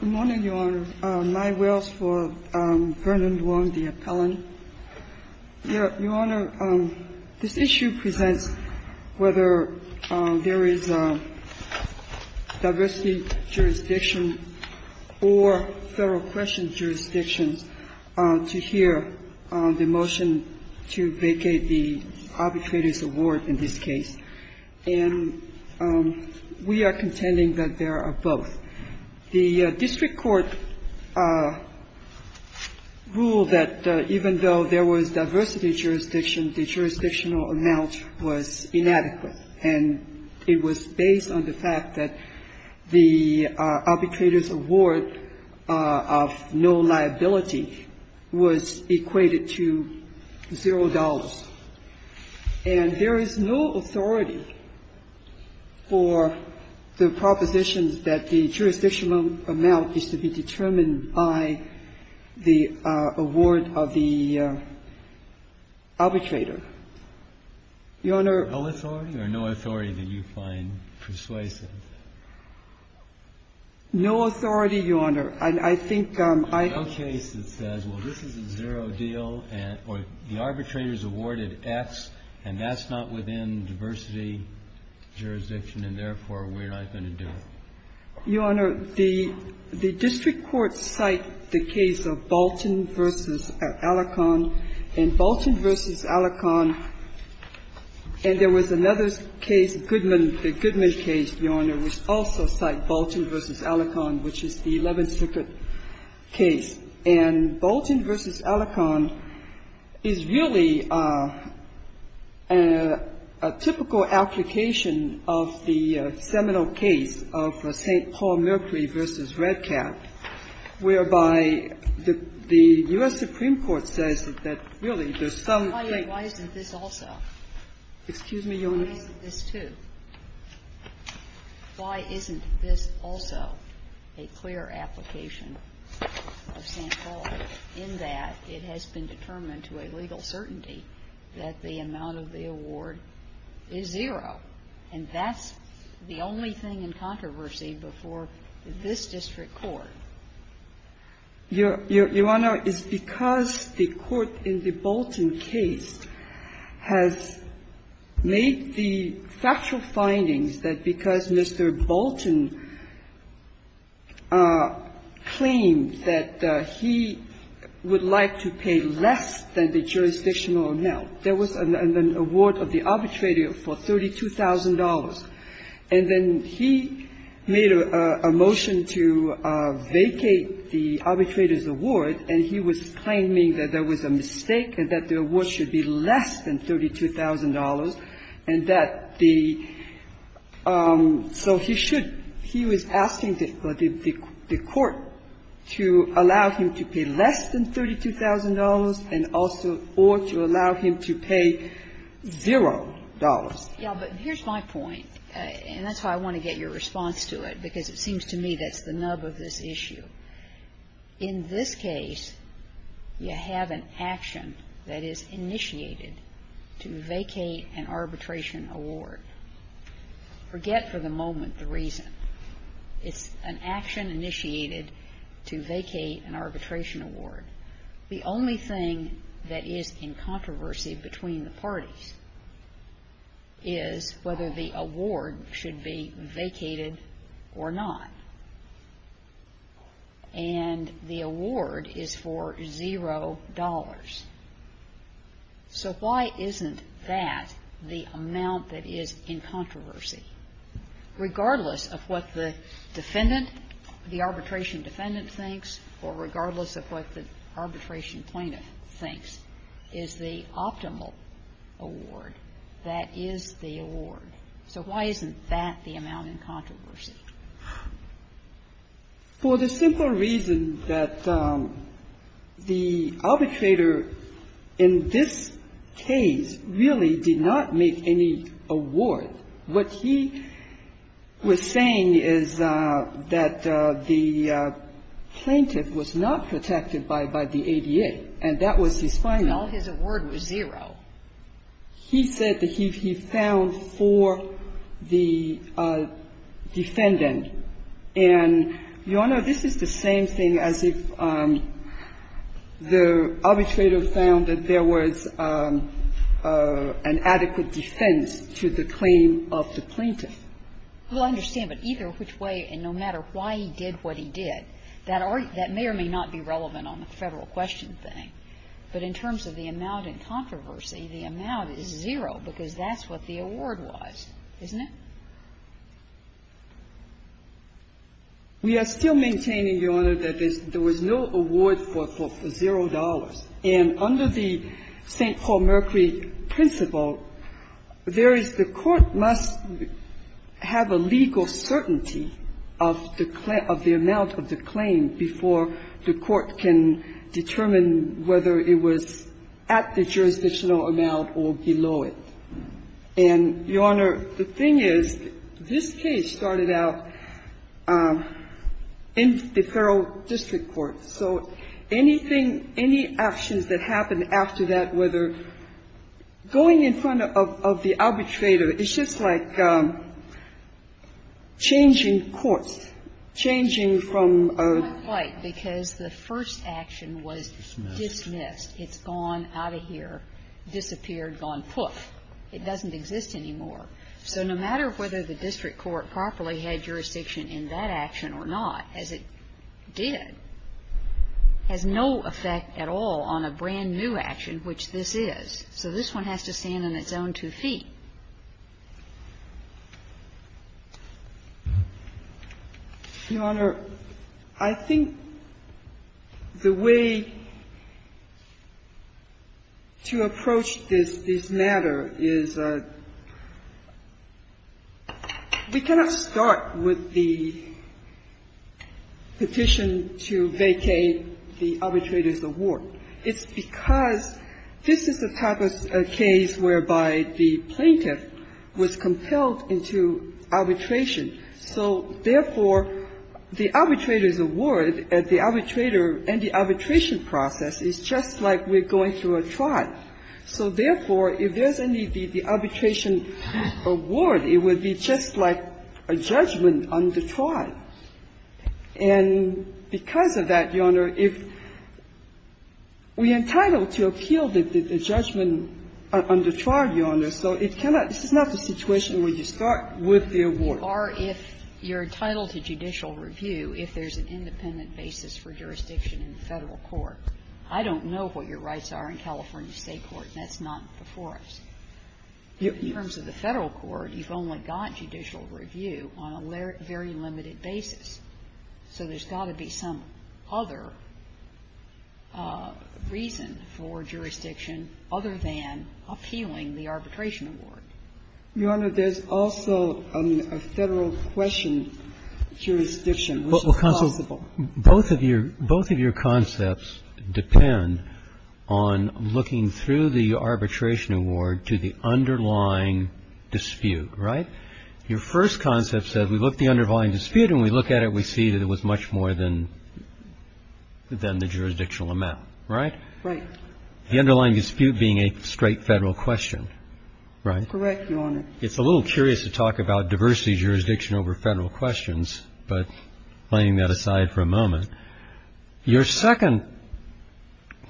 Good morning, Your Honor. My will is for Vernon Duong, the appellant. Your Honor, this issue presents whether there is a diversity jurisdiction or federal question jurisdictions to hear the motion to vacate the arbitrator's award in this case. And we are contending that there are both. The district court ruled that even though there was diversity jurisdiction, the jurisdictional amount was inadequate. And it was based on the fact that the arbitrator's award of no liability was equated to zero dollars. And there is no authority for the propositions that the jurisdictional amount is to be determined by the award of the arbitrator. Your Honor ---- No authority or no authority that you find persuasive? No authority, Your Honor. And I think I ---- There is no case that says, well, this is a zero deal, or the arbitrator's award is X, and that's not within diversity jurisdiction, and therefore, we're not going to do it. Your Honor, the district court cited the case of Bolton v. Alacon. And Bolton v. Alacon ---- and there was another case, Goodman, the Goodman case, Your Honor, which also cited Bolton v. Alacon, which is the Eleventh Circuit case. And Bolton v. Alacon is really a typical application of the seminal case of St. Paul Mercury v. Redcap, whereby the U.S. Supreme Court says that, really, there's some ---- Why isn't this also? Excuse me, Your Honor? Why isn't this too? Why isn't this also a clear application of St. Paul, in that it has been determined to a legal certainty that the amount of the award is zero? And that's the only thing in controversy before this district court. Your Honor, it's because the court in the Bolton case has made the factual findings that because Mr. Bolton claimed that he would like to pay less than the jurisdictional amount, there was an award of the arbitrator for $32,000. And then he made a motion to vacate the arbitrator's award, and he was claiming that there was a mistake and that the award should be less than $32,000, and that the ---- so he should. He was asking the court to allow him to pay less than $32,000 and also or to allow him to pay zero dollars. Yeah, but here's my point, and that's how I want to get your response to it, because it seems to me that's the nub of this issue. In this case, you have an action that is initiated to vacate an arbitration award. Forget for the moment the reason. It's an action initiated to vacate an arbitration award. The only thing that is in controversy between the parties is whether the award should be vacated or not. And the award is for zero dollars. So why isn't that the amount that is in controversy? Regardless of what the defendant, the arbitration defendant thinks, or regardless of what the arbitration plaintiff thinks, is the optimal award, that is the award. So why isn't that the amount in controversy? For the simple reason that the arbitrator in this case really did not make any award. What he was saying is that the plaintiff was not protected by the ADA, and that was his final. Well, his award was zero. He said that he found for the defendant. And, Your Honor, this is the same thing as if the arbitrator found that there was an adequate defense to the claim of the plaintiff. Well, I understand. But either which way, and no matter why he did what he did, that may or may not be relevant on the Federal question thing. But in terms of the amount in controversy, the amount is zero, because that's what the award was, isn't it? We are still maintaining, Your Honor, that there was no award for zero dollars. And under the St. Paul Mercury principle, there is the court must have a legal certainty of the amount of the claim before the court can determine whether it was at the jurisdictional amount or below it. And, Your Honor, the thing is this case started out in the Federal district court. So anything, any actions that happen after that, whether going in front of the arbitrator, it's just like changing courts, changing from a ---- It's not quite, because the first action was dismissed. It's gone out of here, disappeared, gone poof. It doesn't exist anymore. So no matter whether the district court properly had jurisdiction in that action or not, as it did, has no effect at all on a brand-new action, which this is. So this one has to stand on its own two feet. Your Honor, I think the way to approach this matter is we cannot start with the question of the petition to vacate the arbitrator's award. It's because this is the type of case whereby the plaintiff was compelled into arbitration. So, therefore, the arbitrator's award at the arbitrator and the arbitration process is just like we're going through a trial. So, therefore, if there's any arbitration award, it would be just like a judgment on the trial. And because of that, Your Honor, if we're entitled to appeal the judgment on the trial, Your Honor, so it cannot ---- this is not the situation where you start with the award. Or if you're entitled to judicial review, if there's an independent basis for jurisdiction in the Federal court. I don't know what your rights are in California State court, and that's not before us. In terms of the Federal court, you've only got judicial review on a very limited basis. So there's got to be some other reason for jurisdiction other than appealing the arbitration award. Your Honor, there's also a Federal question jurisdiction, which is possible. Well, counsel, both of your concepts depend on looking through the arbitration award to the underlying dispute, right? Your first concept says we look at the underlying dispute, and we look at it, we see that it was much more than the jurisdictional amount, right? Right. The underlying dispute being a straight Federal question, right? Correct, Your Honor. It's a little curious to talk about diversity jurisdiction over Federal questions, but laying that aside for a moment. Your second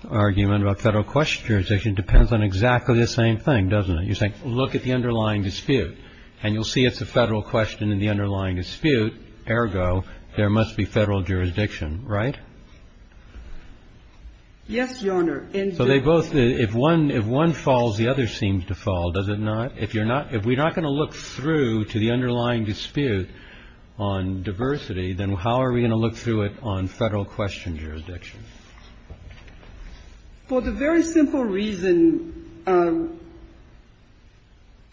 argument about Federal question jurisdiction depends on exactly the same thing, doesn't it? You're saying, look at the underlying dispute, and you'll see it's a Federal question in the underlying dispute, ergo, there must be Federal jurisdiction, right? Yes, Your Honor. So they both – if one falls, the other seems to fall, does it not? If you're not – if we're not going to look through to the underlying dispute on diversity, then how are we going to look through it on Federal question jurisdiction? For the very simple reason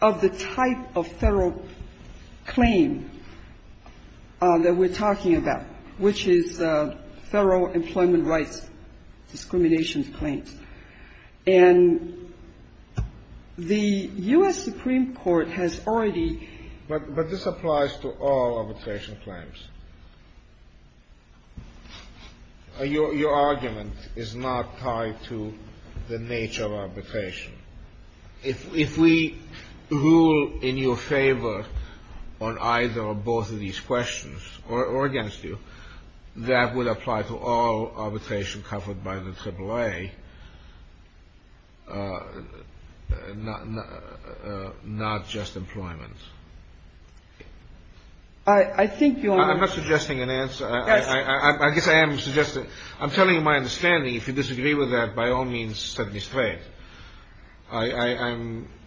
of the type of Federal claim that we're talking about, which is Federal employment rights discrimination claims. And the U.S. Supreme Court has already – But this applies to all arbitration claims. Your argument is not tied to the nature of arbitration. If we rule in your favor on either or both of these questions, or against you, that would apply to all arbitration covered by the AAA, not just employment. I'm not suggesting an answer. Yes. I guess I am suggesting – I'm telling you my understanding. If you disagree with that, by all means, set me straight. I'm –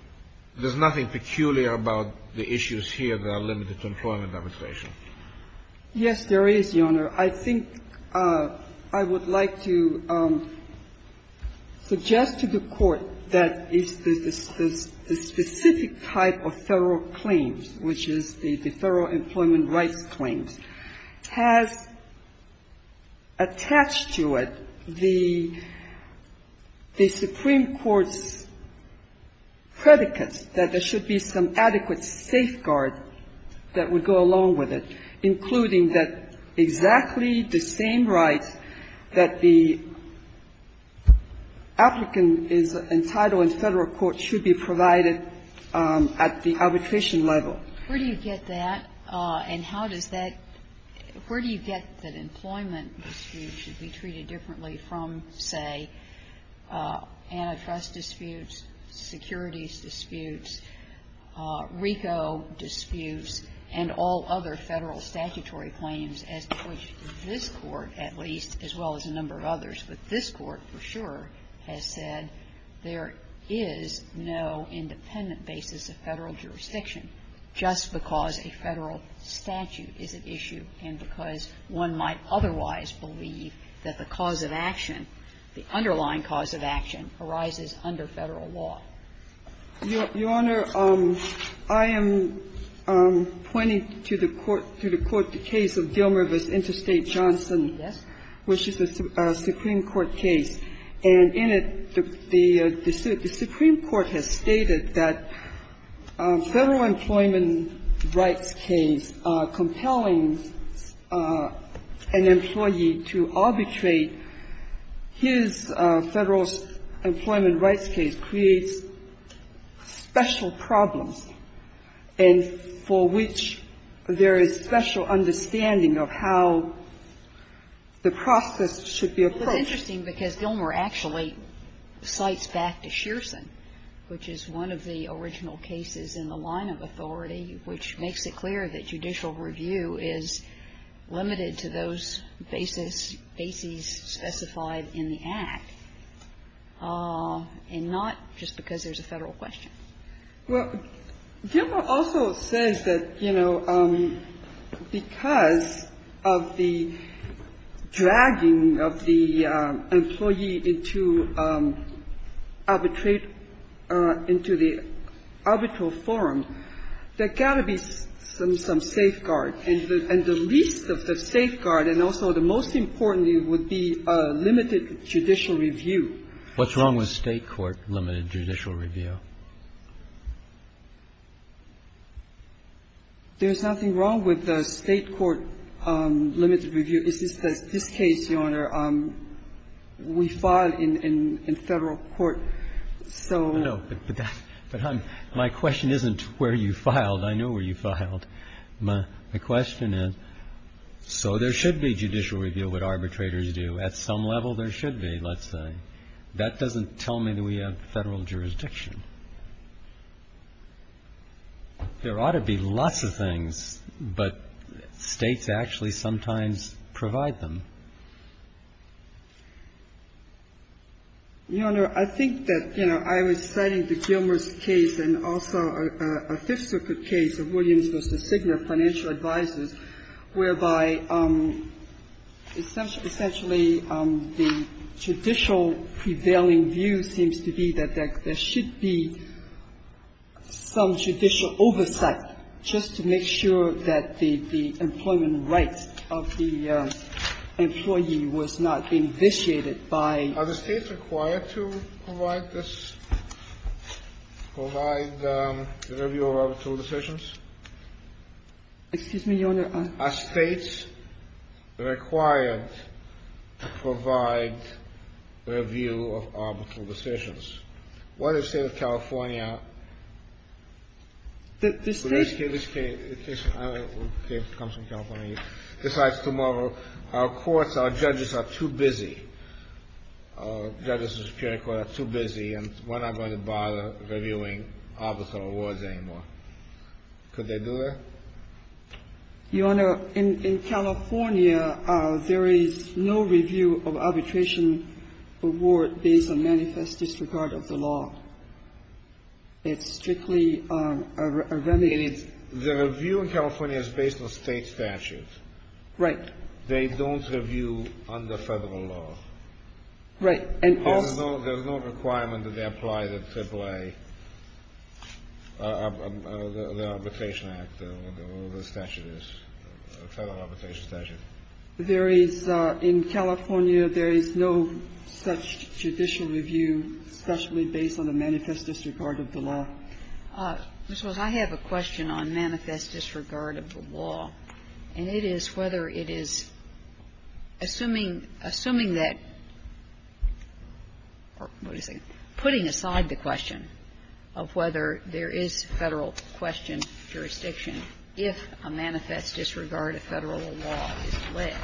there's nothing peculiar about the issues here that are limited to employment arbitration. Yes, there is, Your Honor. I think I would like to suggest to the Court that it's the specific type of Federal claims, which is the Federal employment rights claims, has attached to it the Supreme Court's predicates that there should be some adequate safeguard that would go along with it, including that exactly the same rights that the applicant is entitled to. And that the Federal and Federal courts should be provided at the arbitration level. Where do you get that? And how does that – where do you get that employment disputes should be treated differently from, say, antitrust disputes, securities disputes, RICO disputes, and all other Federal statutory claims, as before this Court, at least, as well as a number of others? And that's what this Court, for sure, has said. There is no independent basis of Federal jurisdiction just because a Federal statute is at issue and because one might otherwise believe that the cause of action, the underlying cause of action, arises under Federal law. Your Honor, I am pointing to the court – to the court, the case of Dilmer v. Interstate Johnson, which is a Supreme Court case. And in it, the Supreme Court has stated that Federal employment rights case compelling an employee to arbitrate his Federal employment rights case creates special problems and for which there is special understanding of how the process should be approached. It's interesting because Dilmer actually cites back to Shearson, which is one of the original cases in the line of authority, which makes it clear that judicial review is limited to those basis – bases specified in the Act, and not just because there's a Federal question. Well, Dilmer also says that, you know, because of the dragging of the employee into arbitrate – into the arbitral forum, there's got to be some safeguard. And the least of the safeguard, and also the most important, would be limited judicial review. What's wrong with State court limited judicial review? There's nothing wrong with State court limited review. It's just that this case, Your Honor, we filed in Federal court, so – No, but that – but I'm – my question isn't where you filed. I know where you filed. My question is, so there should be judicial review, what arbitrators do. At some level, there should be, let's say. That doesn't tell me that we have Federal jurisdiction. There ought to be lots of things, but States actually sometimes provide them. Your Honor, I think that, you know, I was citing the Dilmer case and also a Fifth Circuit case of Williams v. Signor, financial advisors, whereby essentially the judicial prevailing view seems to be that there should be some judicial oversight just to make sure that the employment rights of the employee was not being vitiated by – Are the States required to provide this – provide the review of arbitral decisions? Excuse me, Your Honor, I – Are States required to provide review of arbitral decisions? What does it say in California? That this case – Which case – which case – I don't know which case comes from California. Besides tomorrow, our courts, our judges are too busy. Our judges in the Superior Court are too busy, and we're not going to bother reviewing arbitral awards anymore. Could they do that? Your Honor, in California, there is no review of arbitration award based on manifest disregard of the law. It's strictly a remediated – The review in California is based on State statutes. Right. They don't review under Federal law. Right. And also – There is – in California, there is no such judicial review specially based on a manifest disregard of the law. I have a question on manifest disregard of the law, and it is whether it is assuming – assuming that – what is it? Putting aside the question of whether there is Federal question jurisdiction if a manifest disregard of Federal law is alleged,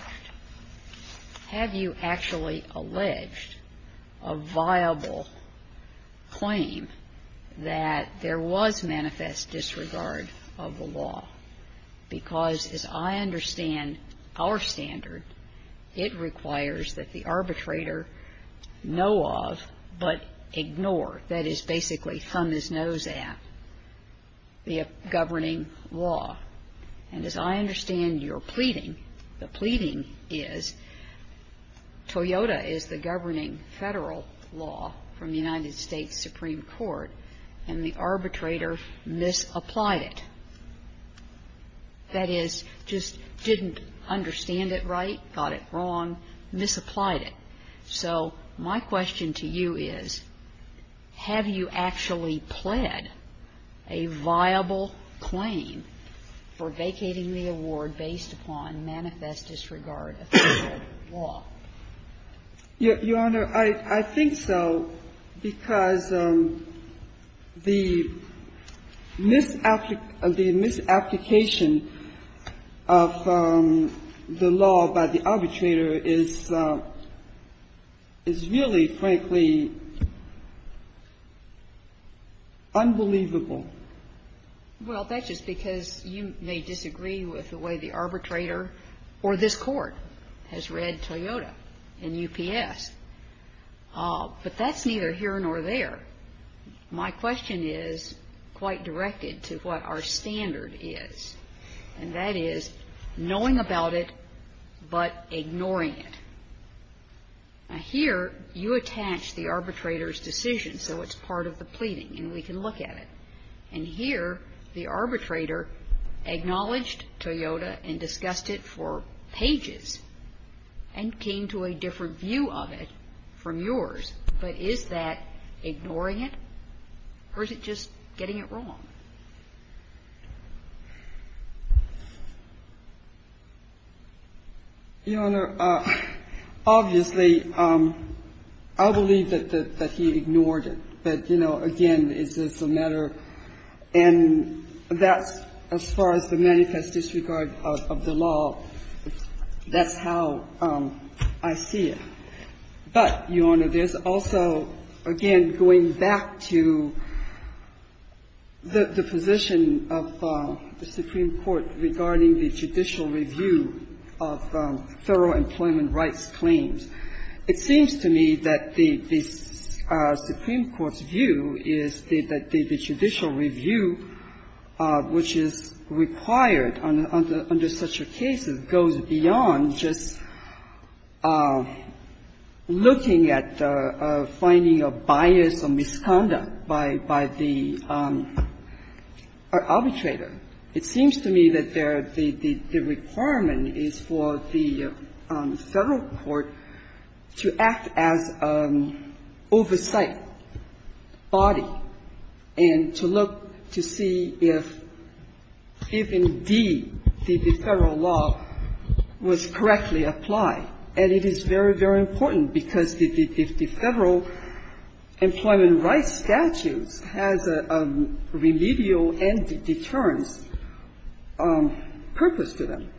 have you actually alleged a viable claim that there was manifest disregard of the law? Because as I understand our standard, it requires that the arbitrator know of, but ignore, that is basically thumb his nose at, the governing law. And as I understand your pleading, the pleading is, Toyota is the governing Federal law from the United States Supreme Court, and the arbitrator misapplied it. That is, just didn't understand it right, got it wrong, misapplied it. So my question to you is, have you actually pled a viable claim for vacating the award based upon manifest disregard of Federal law? Your Honor, I think so, because the misapplication of the law by the arbitrator is really, frankly, unbelievable. Well, that's just because you may disagree with the way the arbitrator or this Court has read Toyota and UPS. But that's neither here nor there. My question is quite directed to what our standard is, and that is knowing about it, but ignoring it. Now here, you attach the arbitrator's decision, so it's part of the pleading, and we can look at it. And here, the arbitrator acknowledged Toyota and discussed it for pages, and came to a different view of it from yours. But is that ignoring it, or is it just getting it wrong? Your Honor, obviously, I believe that he ignored it. But, you know, again, it's just a matter of the law. That's how I see it. But, Your Honor, there's also, again, going back to the position of the Supreme Court's judicial review of federal employment rights claims, it seems to me that the Supreme Court's view is that the judicial review, which is required under such a case, goes beyond just looking at finding a bias or misconduct by the arbitrator. It seems to me that the requirement is for the Federal court to act as an oversight body and to look to see if, if indeed the Federal law was correctly applied. And it is very, very important, because if the Federal employment rights statutes have a remedial and deterrence purpose to them,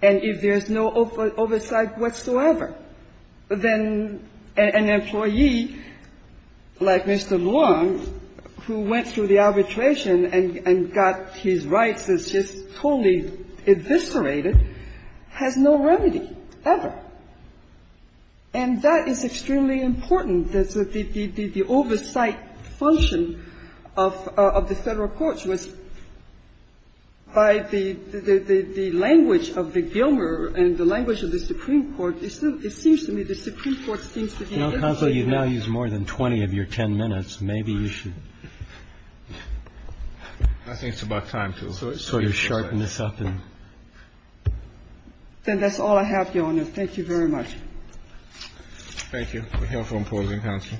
and if there's no oversight whatsoever, then an employee like Mr. Luong, who went through the arbitration and got his rights as just totally eviscerated, has no remedy ever. And that is extremely important, that the oversight function of the Federal courts was, by the language of the Gilmer and the language of the Supreme Court, it seems to me the Supreme Court seems to be able to do that. Kennedy. Well, counsel, you've now used more than 20 of your 10 minutes. Maybe you should sort of sharpen this up and do something. I think it's about time to. Then that's all I have, Your Honor. Thank you very much. Thank you. We're here for a moment, counsel.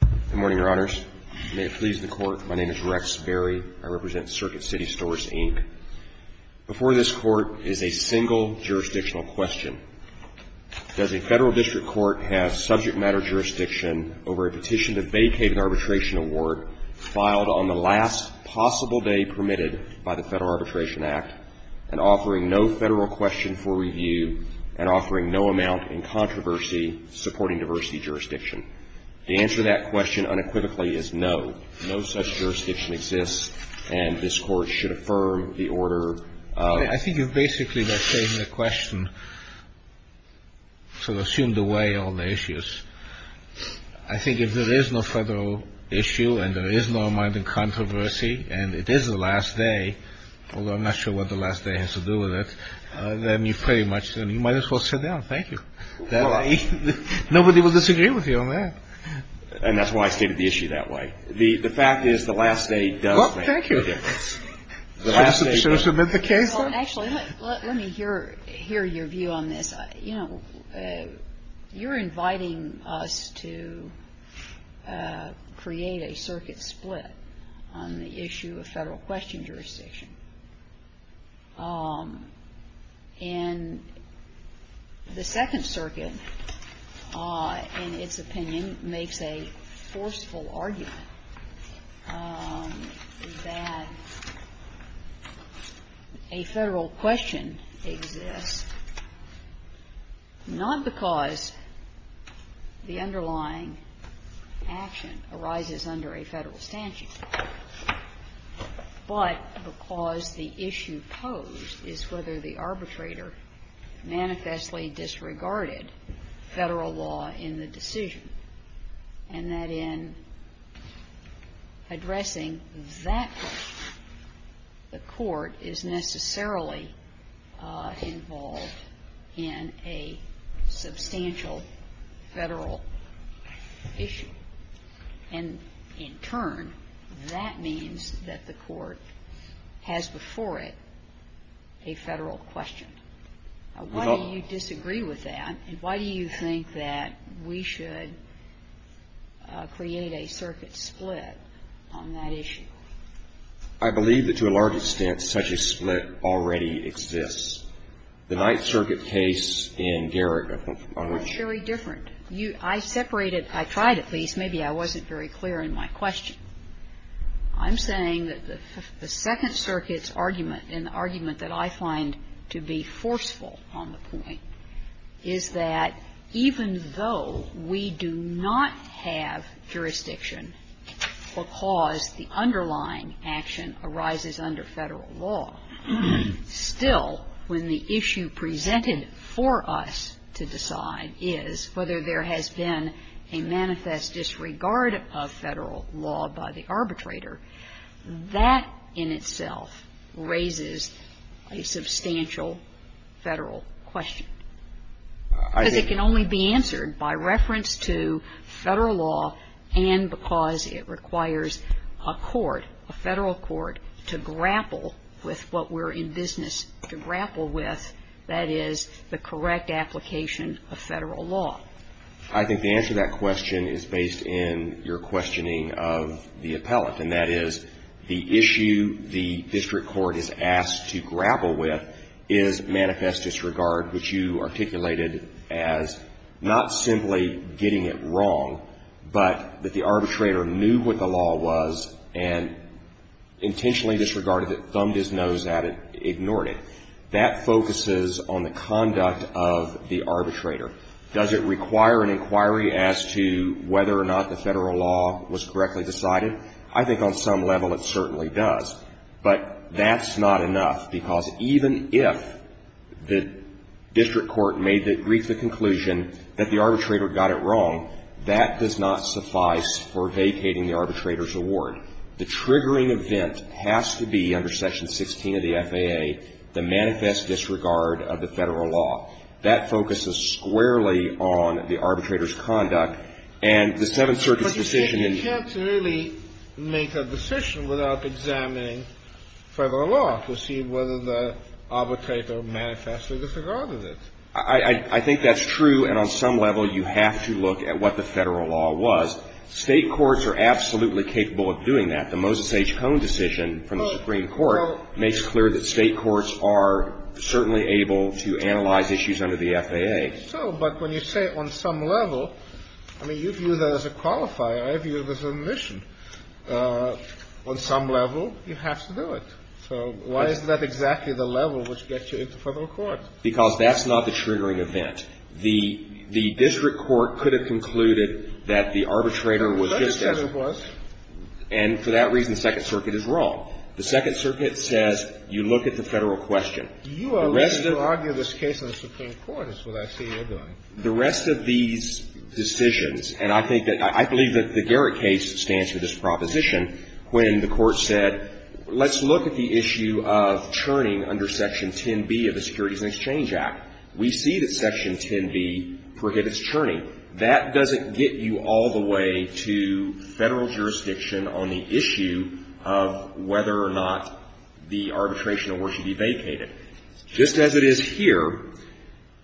Good morning, Your Honors. May it please the Court, my name is Rex Berry. I represent Circuit City Stores, Inc. Before this Court is a single jurisdictional question. Does a Federal district court have subject matter jurisdiction over a petition to vacate an arbitration award filed on the last possible day permitted by the Federal jurisdiction? The answer to that question unequivocally is no. No such jurisdiction exists, and this Court should affirm the order of. I think you've basically, by saying the question, sort of assumed away all the issues. I think if there is no Federal issue and there is no amount of controversy and it is the last day, although I'm not sure what the last day has to do with it, and it's not then you pretty much, you might as well sit down. Thank you. Nobody will disagree with you on that. And that's why I stated the issue that way. The fact is the last day does make a difference. Well, thank you. Should I submit the case then? Actually, let me hear your view on this. You know, you're inviting us to create a circuit split on the issue of Federal question under the Federal jurisdiction, and the Second Circuit, in its opinion, makes a forceful argument that a Federal question exists not because the underlying action arises under a Federal statute, but because the issue posed is whether the arbitrator manifestly disregarded Federal law in the decision, and that in addressing that question, the Court is necessarily involved in a substantial Federal issue. And in turn, that means that the Court has before it a Federal question. Why do you disagree with that? And why do you think that we should create a circuit split on that issue? I believe that, to a large extent, such a split already exists. The Ninth Circuit case in Garrick, on which you are referring to, is very different. I separated – I tried, at least. Maybe I wasn't very clear in my question. I'm saying that the Second Circuit's argument and the argument that I find to be forceful on the point is that even though we do not have jurisdiction because the underlying action arises under Federal law, still, when the issue presented for us to decide is whether there has been a manifest disregard of Federal law by the arbitrator, that in itself raises a substantial Federal question. Because it can only be answered by reference to Federal law and because it requires a court, a Federal court, to grapple with what we're in business to grapple with, that is, the correct application of Federal law. I think the answer to that question is based in your questioning of the appellate, and that is the issue the district court is asked to grapple with is manifest disregard, which you articulated as not simply getting it wrong, but that the arbitrator knew what the law was and intentionally disregarded it, thumbed his nose at it, ignored it. That focuses on the conduct of the arbitrator. Does it require an inquiry as to whether or not the Federal law was correctly decided? I think on some level it certainly does. But that's not enough, because even if the district court made the brief, the conclusion that the arbitrator got it wrong, that does not suffice for vacating the arbitrator's award. The triggering event has to be under Section 16 of the FAA, the manifest disregard of the Federal law. That focuses squarely on the arbitrator's conduct. The question is, how do you make a decision without examining Federal law to see whether the arbitrator manifestly disregarded it? I think that's true, and on some level you have to look at what the Federal law was. State courts are absolutely capable of doing that. The Moses H. Cohn decision from the Supreme Court makes clear that State courts are certainly able to analyze issues under the FAA. So, but when you say on some level, I mean, you view that as a qualifier. I view it as an omission. On some level, you have to do it. So why is that exactly the level which gets you into Federal court? Because that's not the triggering event. The district court could have concluded that the arbitrator was just as it was. And for that reason, the Second Circuit is wrong. The Second Circuit says you look at the Federal question. You are willing to argue this case in the Supreme Court, is what I see you're doing. The rest of these decisions, and I think that the Garrett case stands for this proposition. When the Court said, let's look at the issue of churning under Section 10b of the Securities and Exchange Act. We see that Section 10b prohibits churning. That doesn't get you all the way to Federal jurisdiction on the issue of whether or not the arbitration award should be vacated. Just as it is here,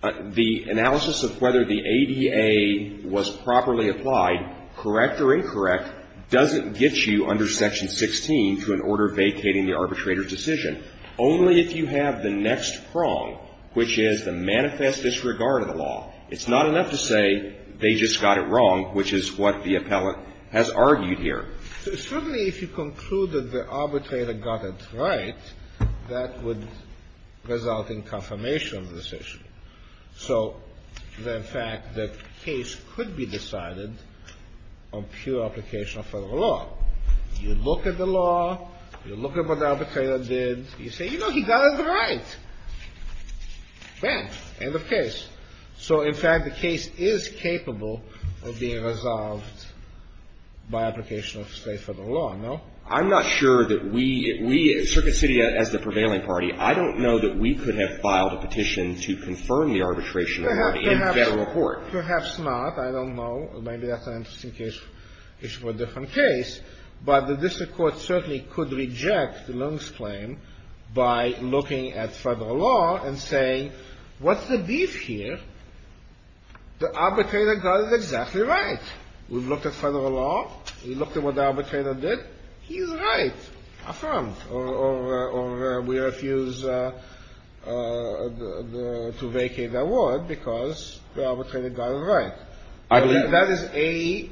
the analysis of whether the ADA was properly applied, correct or incorrect, doesn't get you under Section 16 to an order vacating the arbitrator's decision, only if you have the next prong, which is the manifest disregard of the law. It's not enough to say they just got it wrong, which is what the appellant has argued here. Certainly, if you conclude that the arbitrator got it right, that would result in confirmation of the decision. So the fact that the case could be decided on pure application of Federal law. You look at the law. You look at what the arbitrator did. You say, you know, he got it right. Bam. End of case. So, in fact, the case is capable of being resolved by application of, say, Federal law, no? I'm not sure that we, we, Circuit City as the prevailing party, I don't know that we could have filed a petition to confirm the arbitration award in Federal court. Perhaps not. I don't know. Maybe that's an interesting case, issue for a different case. But the district court certainly could reject Leung's claim by looking at Federal law and saying, what's the beef here? The arbitrator got it exactly right. We've looked at Federal law. We looked at what the arbitrator did. He's right. Affirm. Or we refuse to vacate the award because the arbitrator got it right. I believe that is a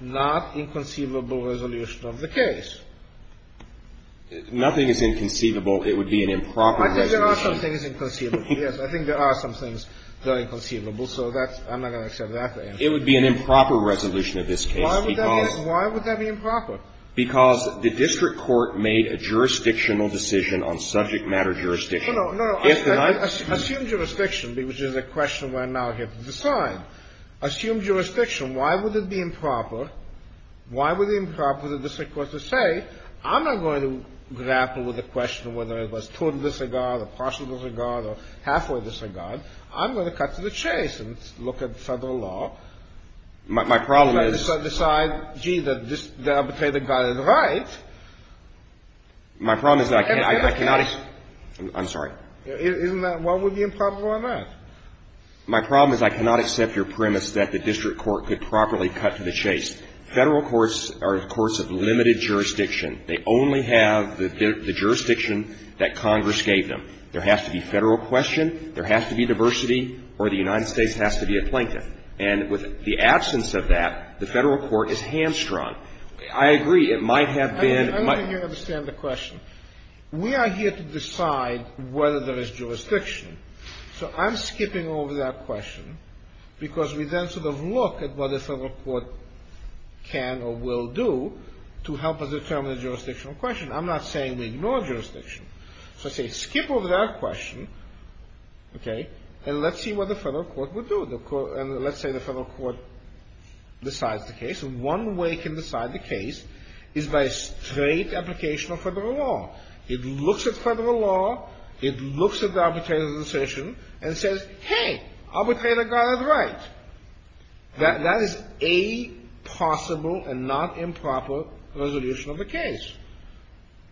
not inconceivable resolution of the case. Nothing is inconceivable. It would be an improper resolution. I think there are some things inconceivable. Yes. I think there are some things that are inconceivable. So that's, I'm not going to accept that answer. It would be an improper resolution of this case. Why would that be improper? Because the district court made a jurisdictional decision on subject matter jurisdiction. No, no, no. Assume jurisdiction, which is a question where I'm now here to decide. Assume jurisdiction. Why would it be improper? Why would it be improper for the district court to say, I'm not going to grapple with the question of whether it was total disregard or partial disregard or halfway disregard. I'm going to cut to the chase and look at Federal law. My problem is. And decide, gee, the arbitrator got it right. My problem is that I cannot. I'm sorry. Isn't that what would be improper on that? My problem is I cannot accept your premise that the district court could properly cut to the chase. Federal courts are courts of limited jurisdiction. They only have the jurisdiction that Congress gave them. There has to be Federal question, there has to be diversity, or the United States has to be a plaintiff. And with the absence of that, the Federal court is hamstrung. I agree, it might have been. I don't think you understand the question. We are here to decide whether there is jurisdiction. So I'm skipping over that question because we then sort of look at what the Federal court can or will do to help us determine the jurisdictional question. I'm not saying we ignore jurisdiction. So I say skip over that question, okay, and let's see what the Federal court would do. And let's say the Federal court decides the case. One way it can decide the case is by a straight application of Federal law. It looks at Federal law. It looks at the arbitrator's decision and says, hey, arbitrator got it right. That is a possible and not improper resolution of the case.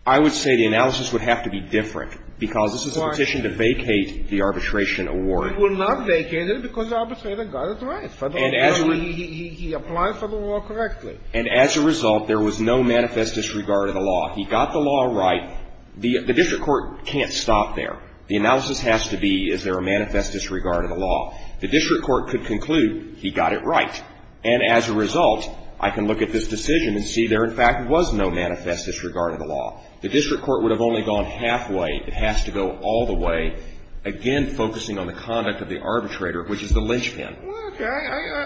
I would say the analysis would have to be different because this is a petition to vacate the arbitration award. It would not vacate it because the arbitrator got it right. He applied for the law correctly. And as a result, there was no manifest disregard of the law. He got the law right. Now, the district court can't stop there. The analysis has to be is there a manifest disregard of the law. The district court could conclude he got it right. And as a result, I can look at this decision and see there, in fact, was no manifest disregard of the law. The district court would have only gone halfway. It has to go all the way, again, focusing on the conduct of the arbitrator, which is the linchpin. Okay.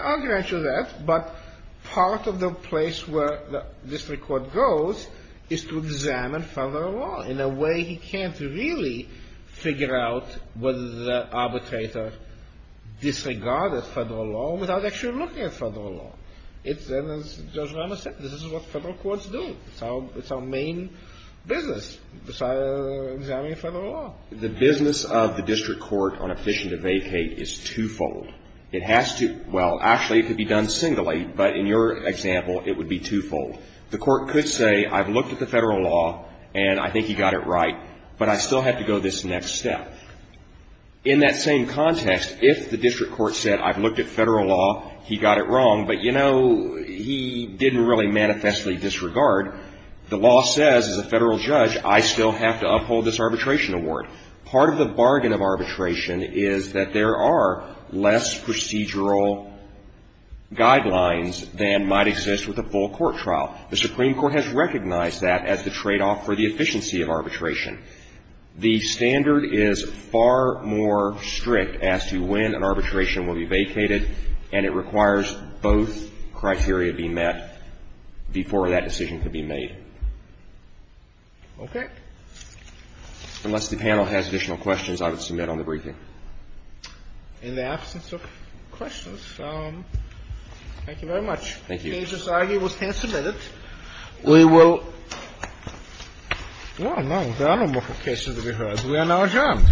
I'll grant you that. But part of the place where the district court goes is to examine federal law. In a way, he can't really figure out whether the arbitrator disregarded federal law without actually looking at federal law. And as Judge Ramos said, this is what federal courts do. It's our main business, examining federal law. The business of the district court on a petition to vacate is twofold. It has to, well, actually, it could be done singly, but in your example, it would be twofold. The court could say, I've looked at the federal law, and I think he got it right, but I still have to go this next step. In that same context, if the district court said, I've looked at federal law, he got it wrong, but, you know, he didn't really manifestly disregard, the law says, as a federal judge, I still have to uphold this arbitration award. Part of the bargain of arbitration is that there are less procedural guidelines than might exist with a full court trial. The Supreme Court has recognized that as the tradeoff for the efficiency of arbitration. The standard is far more strict as to when an arbitration will be vacated, and it requires both criteria to be met before that decision can be made. Okay? Unless the panel has additional questions, I would submit on the briefing. In the absence of questions, thank you very much. Thank you. The case is argued. It was hand-submitted. We will go on. There are no more cases to be heard. We are now adjourned. Thank you.